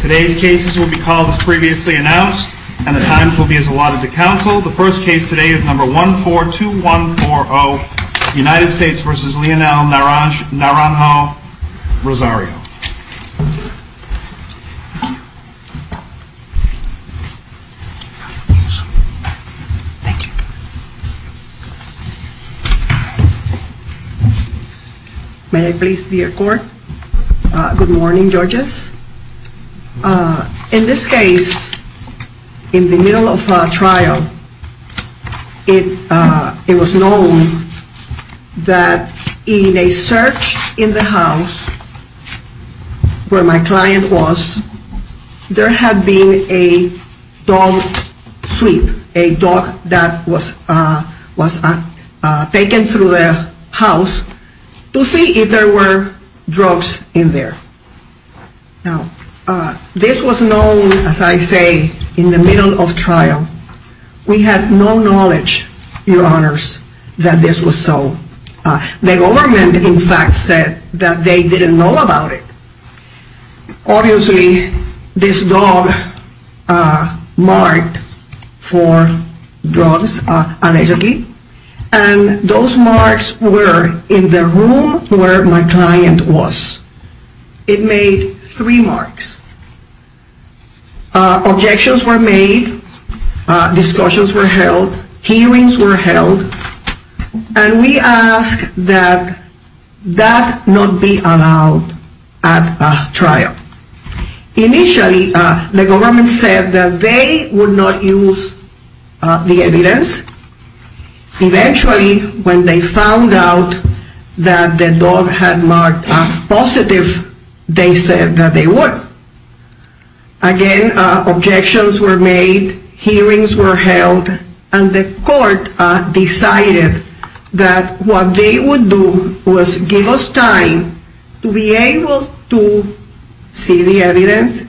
Today's cases will be called as previously announced and the times will be as allotted to counsel. The first case today is number 142140, United States v. Leonel Naranjo-Rosario. May I please be your court? Good morning judges. In this case, in the middle of trial, it was known that in a search in the house where my client was, there had been a dog sweep, a dog that was taken through the house to see if there were drugs in there. Now, this was known, as I say, in the middle of trial. We had no knowledge, your honors, that this was so. The government, in fact, said that they didn't know about it. Obviously, this dog marked for drugs, allegedly, and those marks were in the room where my client was. It made three marks. Objections were made, discussions were held, hearings were held, and we asked that that not be allowed at trial. Initially, the government said that they would not use the evidence. Eventually, when they found out that the dog had been taken, they said that they would. Again, objections were made, hearings were held, and the court decided that what they would do was give us time to be able to see the evidence,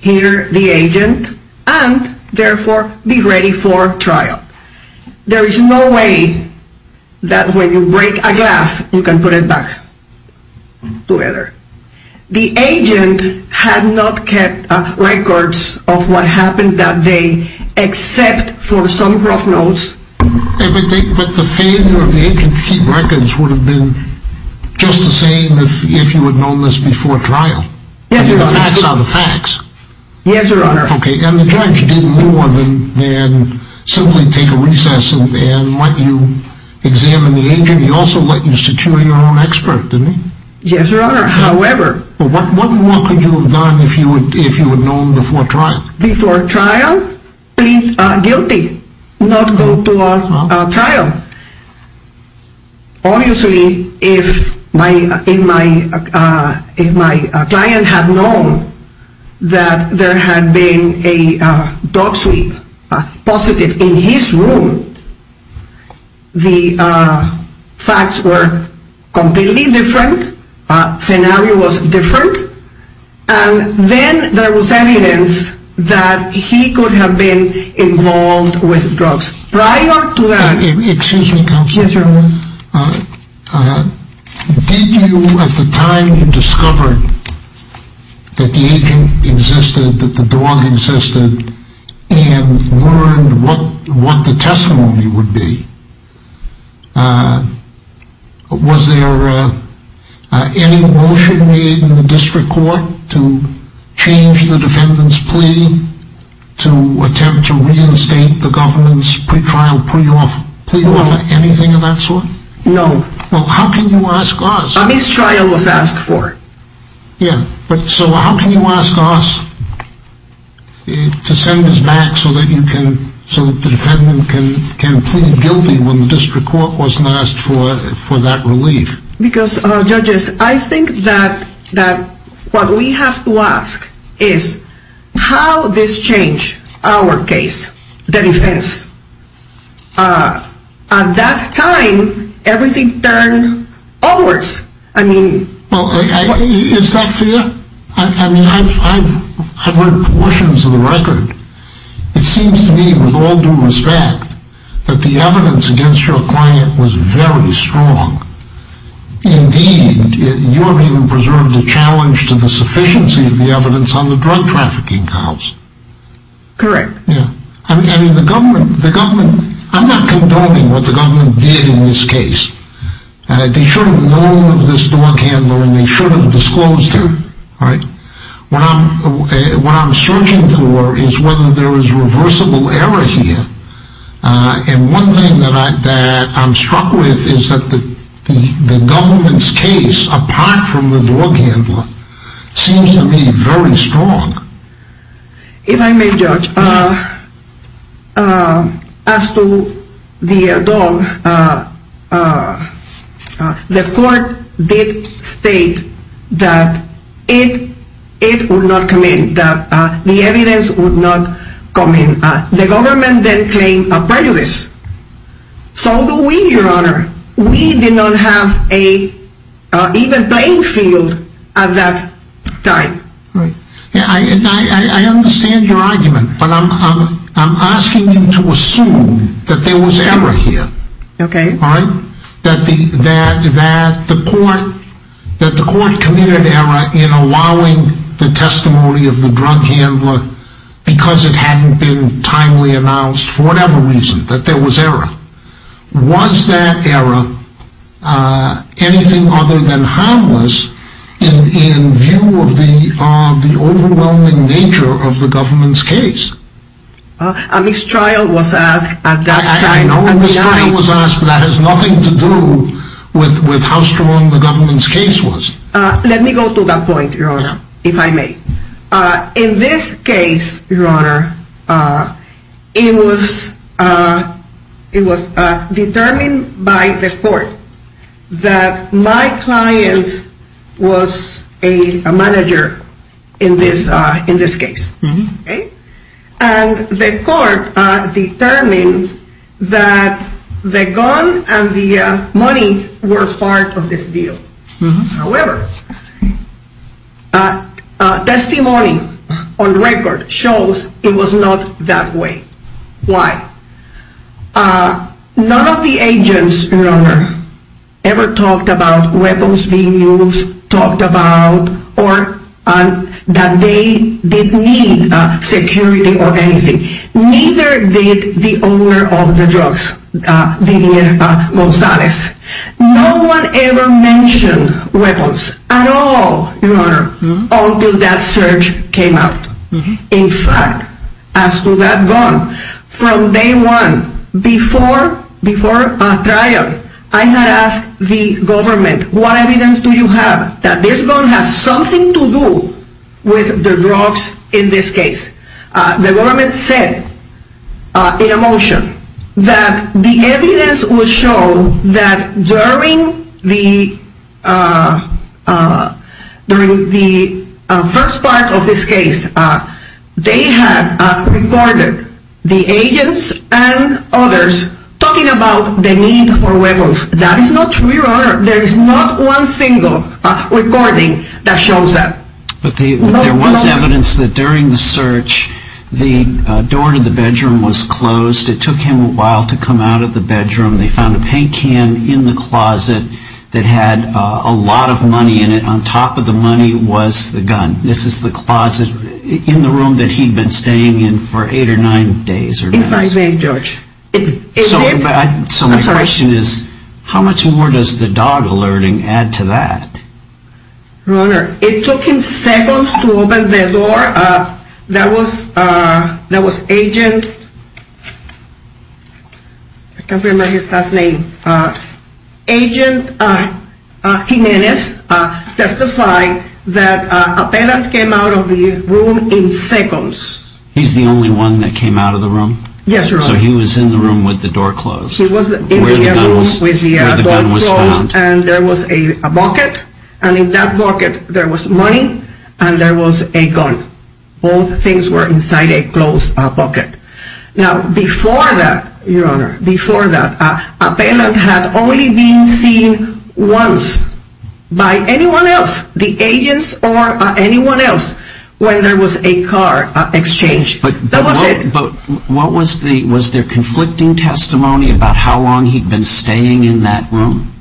hear the agent, and therefore be ready for trial. There is no way that when you break a dog together, the agent had not kept records of what happened that day, except for some rough notes. But the failure of the agent to keep records would have been just the same if you had known this before trial? Yes, your honor. The facts are the facts. Yes, your honor. And the judge did more than simply take a recess and let you examine the agent. He also let you secure your own expert, didn't he? Yes, your honor. However... What more could you have done if you had known before trial? Before trial? Please, guilty, not go to a trial. Obviously, if my client had known that there had been a dog sweep positive in his room, the facts were completely different, the scenario was different, and then there was evidence that he could have been involved with drugs. Prior to that... Excuse me, counsel. Yes, your honor. Did you, at the time you discovered that the agent existed, that the dog existed, and learned what the testimony would be, was there any motion made in the district court to change the defendant's plea to attempt to reinstate the government's pre-trial pre-offer? No. Anything of that sort? No. Well, how can you ask us? A mistrial was asked for. Yeah, but so how can you ask us to send this back so that you can, so that the defendant can plead guilty when the district court wasn't asked for that relief? Because, judges, I think that what we have to ask is how this changed our case, the defense. At that time, everything turned onwards. I mean... Well, is that fair? I mean, I've read portions of the record. It seems to me, with all due respect, that the evidence against your client was very strong. Indeed, you haven't even preserved a challenge to the sufficiency of the evidence on the drug trafficking counts. Correct. Yeah. I mean, the government, I'm not condoning what the government did in this case. They should have known of this dog handler, and they should have disclosed him, right? What I'm searching for is whether there is reversible error here. And one thing that I'm struck with is that the government's case, apart from the dog handler, seems to me very strong. If I may, Judge, as to the dog, the court did state that it would not come in, that the evidence would not come in. The government then claimed a prejudice. So do we, Your Honor. We did not have an even playing field at that time. Right. I understand your argument, but I'm asking you to assume that there was error here. Okay. That the court committed error in allowing the testimony of the drug handler, because it hadn't been timely announced, for whatever reason, that there was error. Was that error anything other than harmless in view of the overwhelming nature of the government's case? A mistrial was asked at that time. I know a mistrial was asked, but that has nothing to do with how strong the government's case was. Let me go to that point, Your Honor, if I may. In this case, Your Honor, it was determined by the court that my client was a manager in this case. Okay. And the court determined that the gun and the money were part of this deal. However, testimony on record shows it was not that way. Why? None of the agents, Your Honor, ever talked about weapons being used, talked about, or that they did need security or anything. Neither did the owner of the drugs, Vivier Gonzalez. No one ever mentioned weapons at all, Your Honor, until that search came out. In fact, as to that gun, from day one, before a trial, I had asked the government, what evidence do you have that this gun has something to do with the drugs in this case? The government said in a motion that the evidence would show that during the first part of this case, they had recorded the agents and others talking about the need for weapons. That is not true, Your Honor. There is not one single recording that shows that. But there was evidence that during the search, the door to the bedroom was closed. It took him a while to come out of the bedroom. They found a paint can in the closet that had a lot of money in it. On top of the money was the gun. This is the closet in the room that he had been staying in for eight or nine days or less. In my bank, George. So my question is, how much more does the dog alerting add to that? Your Honor, it took him seconds to open the door. That was, that was agent, I can't remember his last name, Agent Jimenez, testifying that a penitent came out of the room in seconds. He's the only one that came out of the room? Yes, Your Honor. So he was in the room with the door closed? He was in the room with the door closed. And there was a bucket. And in that bucket, there was money. And there was a gun. Both things were inside a closed bucket. Now, before that, Your Honor, before that, a penitent had only been seen once by anyone else, the agents or anyone else, when there was a car exchange. But what was the, was there conflicting testimony about how long he'd been staying in that room?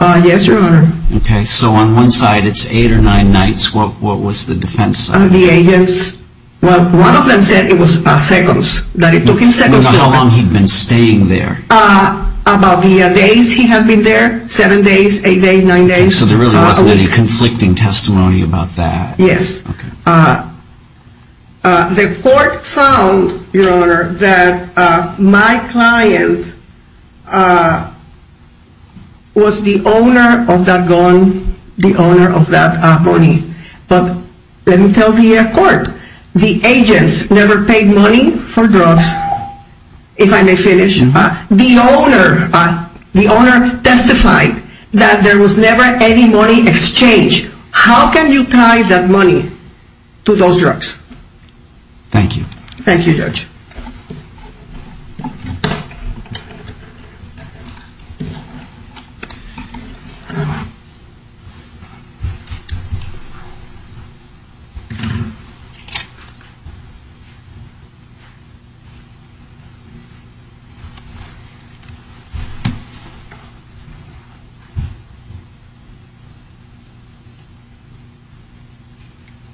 Yes, Your Honor. Okay, so on one side, it's eight or nine nights. What was the defense side? The agents, well, one of them said it was seconds, that it took him seconds to open the door. How long he'd been staying there? About the days he had been there, seven days, eight days, nine days, a week. So there really wasn't any conflicting testimony about that? Yes. The court found, Your Honor, that my client was the owner of that gun, the owner of that money. But let me tell the court, the agents never paid money for drugs. If I may finish, the owner, the owner testified that there was never any money exchanged. How can you tie that money to those drugs? Thank you. Thank you, Judge.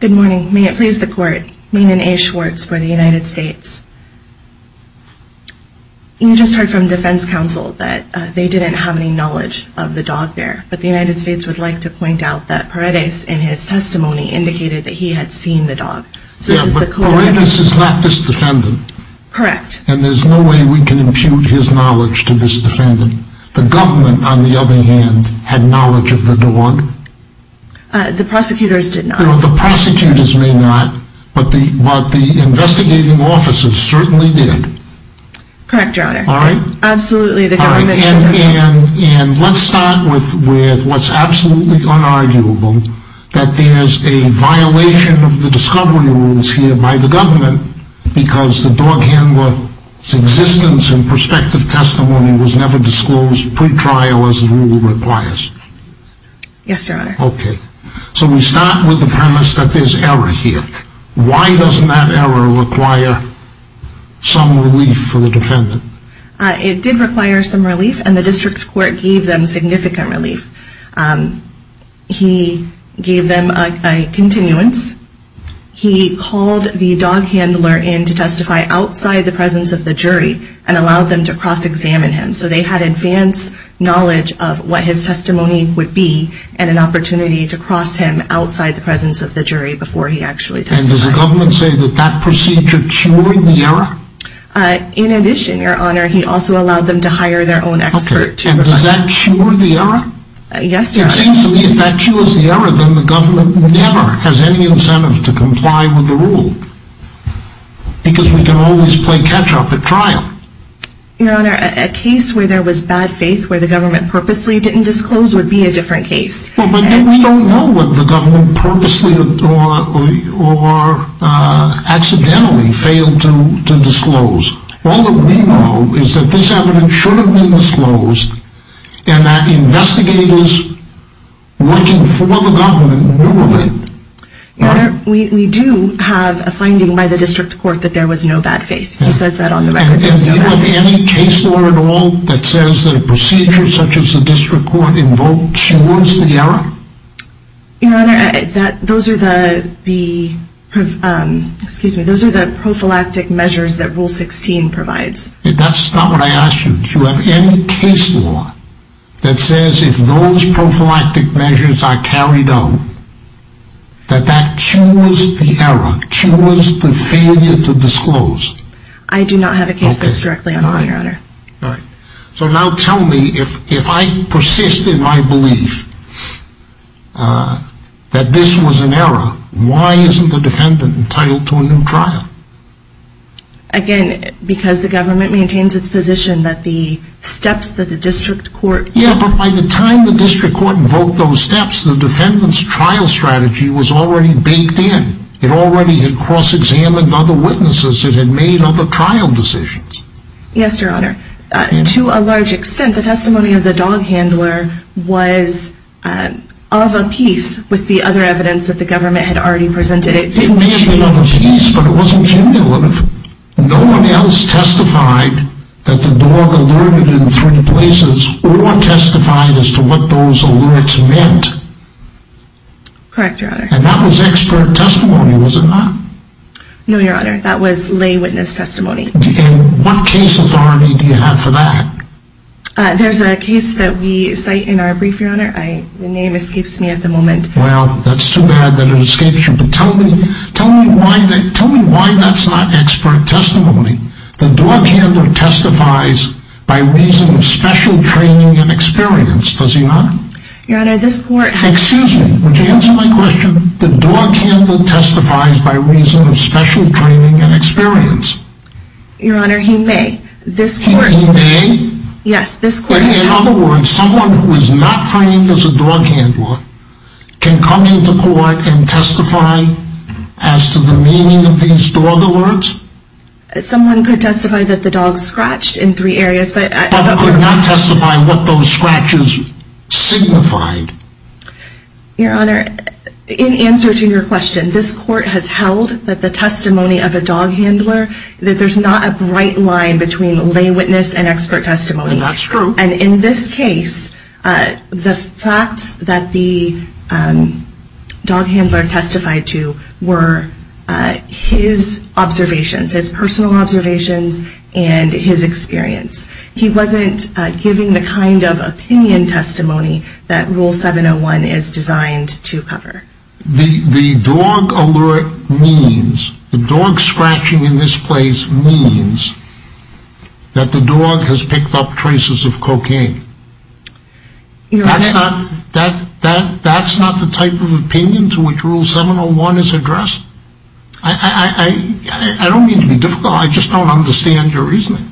Good morning. May it please the court, Maenan A. Schwartz for the United States. You just heard from defense counsel that they didn't have any knowledge of the dog there. But the United States would like to point out that Paredes, in his testimony, indicated that he had seen the dog. Yeah, but Paredes is not this defendant. Correct. And there's no way we can impute his knowledge to this defendant. The government, on the other hand, had knowledge of the dog. The prosecutors did not. The prosecutors may not, but the investigating officers certainly did. Correct, Your Honor. All right. Absolutely, the government should know. And let's start with what's absolutely unarguable, that there's a violation of the discovery rules here by the government because the dog handler's existence and perspective testimony was never disclosed pre-trial as the rule requires. Yes, Your Honor. Okay. So we start with the premise that there's error here. Why doesn't that error require some relief for the defendant? It did require some relief, and the district court gave them significant relief. He gave them a continuance. He called the dog handler in to testify outside the presence of the jury and allowed them to cross-examine him. So they had advance knowledge of what his testimony would be and an opportunity to cross him outside the presence of the jury before he actually testified. And does the government say that that procedure cured the error? In addition, Your Honor, he also allowed them to hire their own expert to reflect. Okay. And does that cure the error? Yes, Your Honor. It seems to me if that cures the error, then the government never has any incentive to comply with the rule because we can always play catch-up at trial. Your Honor, a case where there was bad faith, where the government purposely didn't disclose, would be a different case. Well, but then we don't know what the government purposely or accidentally failed to disclose. All that we know is that this evidence should have been disclosed and that investigators working for the government knew of it. Your Honor, we do have a finding by the district court that there was no bad faith. He says that on the record. And do you have any case law at all that says that a procedure such as the district court invoked cures the error? Your Honor, those are the prophylactic measures that Rule 16 provides. That's not what I asked you. Do you have any case law that says if those prophylactic measures are carried out, that that cures the error, cures the failure to disclose? I do not have a case that's directly on the line, Your Honor. All right. So now tell me, if I persist in my belief that this was an error, why isn't the defendant entitled to a new trial? Again, because the government maintains its position that the steps that the district court took... Yeah, but by the time the district court invoked those steps, the defendant's trial strategy was already baked in. It already had cross-examined other witnesses. It had made other trial decisions. Yes, Your Honor. To a large extent, the testimony of the dog handler was of a piece with the other evidence that the government had already presented. It may have been of a piece, but it wasn't cumulative. No one else testified that the dog alerted in three places or testified as to what those alerts meant. Correct, Your Honor. And that was expert testimony, was it not? No, Your Honor. That was lay witness testimony. And what case authority do you have for that? There's a case that we cite in our brief, Your Honor. The name escapes me at the moment. Well, that's too bad that it escapes you, but tell me why that's not expert testimony. The dog handler testifies by reason of special training and experience, does he not? Your Honor, this court has... Would you answer my question? The dog handler testifies by reason of special training and experience. Your Honor, he may. This court... He may? Yes, this court... In other words, someone who is not trained as a dog handler can come into court and testify as to the meaning of these dog alerts? Someone could testify that the dog scratched in three areas, but... But could not testify what those scratches signified. Your Honor, in answer to your question, this court has held that the testimony of a dog handler, that there's not a bright line between lay witness and expert testimony. That's true. And in this case, the facts that the dog handler testified to were his observations, his personal observations and his experience. He wasn't giving the kind of opinion testimony that Rule 701 is designed to cover. The dog alert means, the dog scratching in this place means that the dog has picked up traces of cocaine. That's not the type of opinion to which Rule 701 is addressed? I don't mean to be difficult, I just don't understand your reasoning.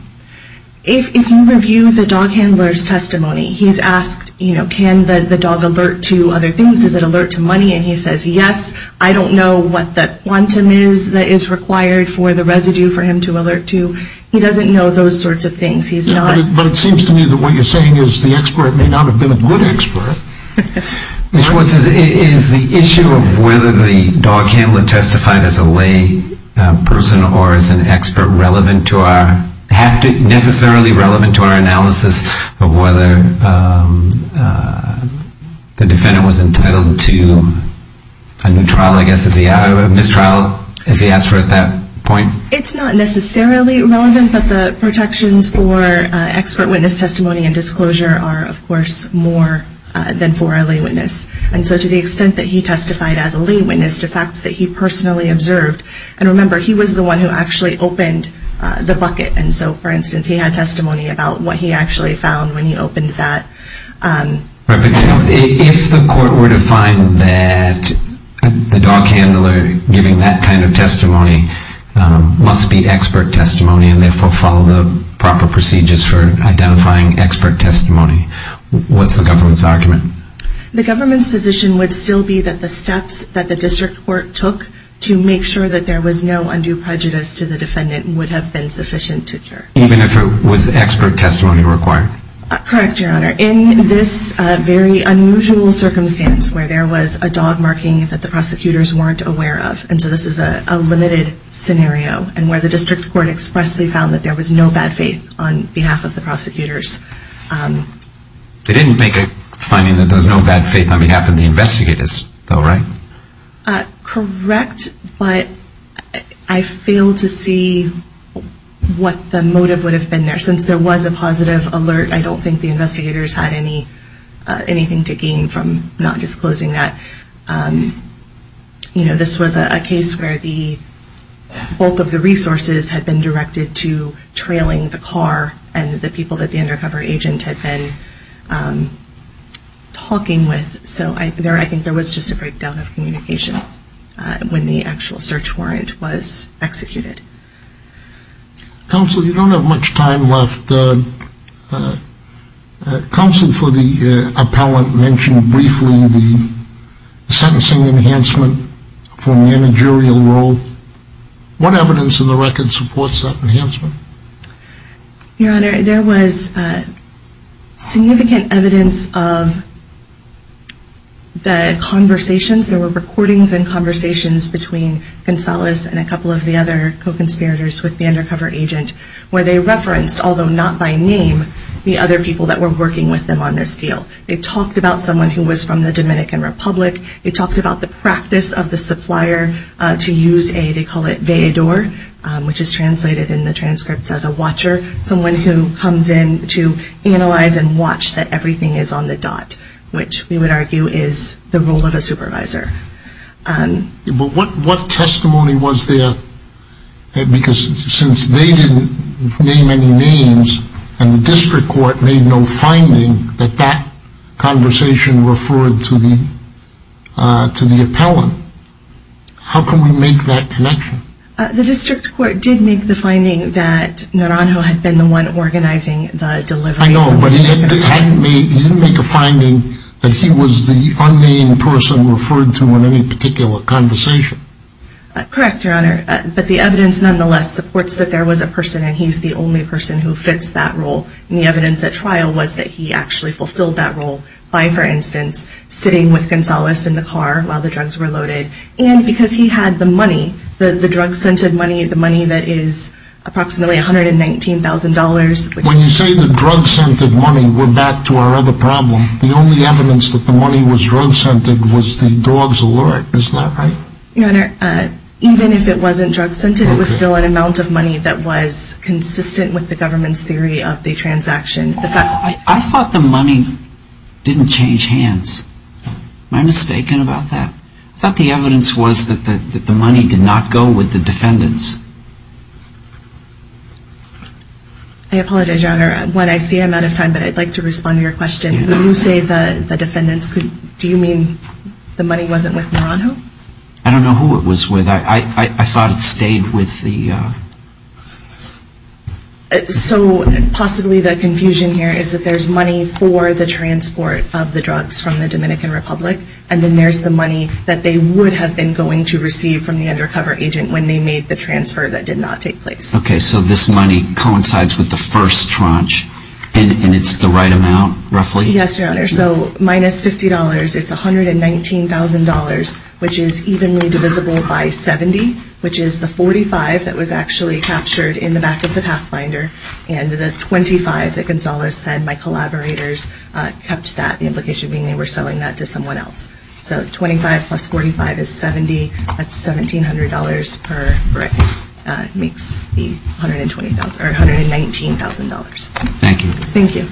If you review the dog handler's testimony, he's asked, you know, can the dog alert to other things? Does it alert to money? And he says, yes. I don't know what the quantum is that is required for the residue for him to alert to. He doesn't know those sorts of things. He's not... But it seems to me that what you're saying is the expert may not have been a good expert. Ms. Schwartz, is the issue of whether the dog handler testified as a lay person or is an expert relevant to our... necessarily relevant to our analysis of whether the defendant was entitled to a new trial, I guess, a mistrial, as he asked for at that point? It's not necessarily relevant, but the protections for expert witness testimony and disclosure are, of course, more than for a lay witness. And so to the extent that he testified as a lay witness to facts that he personally observed, and remember, he was the one who actually opened the bucket. And so, for instance, he had testimony about what he actually found when he opened that. But if the court were to find that the dog handler giving that kind of testimony must be expert testimony and therefore follow the proper procedures for identifying expert testimony, what's the government's argument? The government's position would still be that the steps that the district court took to make sure that there was no undue prejudice to the defendant would have been sufficient to cure. Even if it was expert testimony required? Correct, Your Honor. In this very unusual circumstance where there was a dog marking that the prosecutors weren't aware of, and so this is a limited scenario, and where the district court expressly found that there was no bad faith on behalf of the prosecutors. They didn't make a finding that there's no bad faith on behalf of the investigators, though, right? Uh, correct, but I fail to see what the motive would have been there. Since there was a positive alert, I don't think the investigators had anything to gain from not disclosing that. You know, this was a case where the bulk of the resources had been directed to trailing the car and the people that the undercover agent had been talking with. So I think there was just a breakdown of communication when the actual search warrant was executed. Counsel, you don't have much time left. Counsel for the appellant mentioned briefly the sentencing enhancement for managerial role. What evidence in the record supports that enhancement? Your Honor, there was significant evidence of the conversations. There were recordings and conversations between Gonzalez and a couple of the other co-conspirators with the undercover agent where they referenced, although not by name, the other people that were working with them on this deal. They talked about someone who was from the Dominican Republic. They talked about the practice of the supplier to use a, they call it veador, which is translated in the transcripts as a watcher, someone who comes in to analyze and watch that everything is on the dot, which we would argue is the role of a supervisor. But what testimony was there? Because since they didn't name any names and the district court made no finding that that conversation referred to the appellant, how can we make that connection? The district court did make the finding that Naranjo had been the one organizing the delivery. I know, but he didn't make a finding that he was the unnamed person referred to in any particular conversation. Correct, Your Honor, but the evidence nonetheless supports that there was a person and he's the only person who fits that role. And the evidence at trial was that he actually fulfilled that role by, for instance, sitting with Gonzalez in the car while the drugs were loaded. And because he had the money, the drug-scented money, the money that is approximately $119,000. When you say the drug-scented money, we're back to our other problem. The only evidence that the money was drug-scented was the dog's alert, isn't that right? Your Honor, even if it wasn't drug-scented, it was still an amount of money that was consistent with the government's theory of the transaction. I thought the money didn't change hands. Am I mistaken about that? I thought the evidence was that the money did not go with the defendants. I apologize, Your Honor, when I see I'm out of time, but I'd like to respond to your question. When you say the defendants, do you mean the money wasn't with Naranjo? I don't know who it was with. I thought it stayed with the... So possibly the confusion here is that there's money for the transport of the drugs from the Dominican Republic, and then there's the money that they would have been going to receive from the undercover agent when they made the transfer that did not take place. Okay, so this money coincides with the first tranche, and it's the right amount, roughly? Yes, Your Honor. So minus $50, it's $119,000, which is evenly divisible by 70, which is the 45 that was actually captured in the back of the Pathfinder, and the 25 that Gonzalez said my collaborators kept that, the implication being they were selling that to someone else. So 25 plus 45 is 70. That's $1,700 per brick, makes the $119,000. Thank you. Thank you.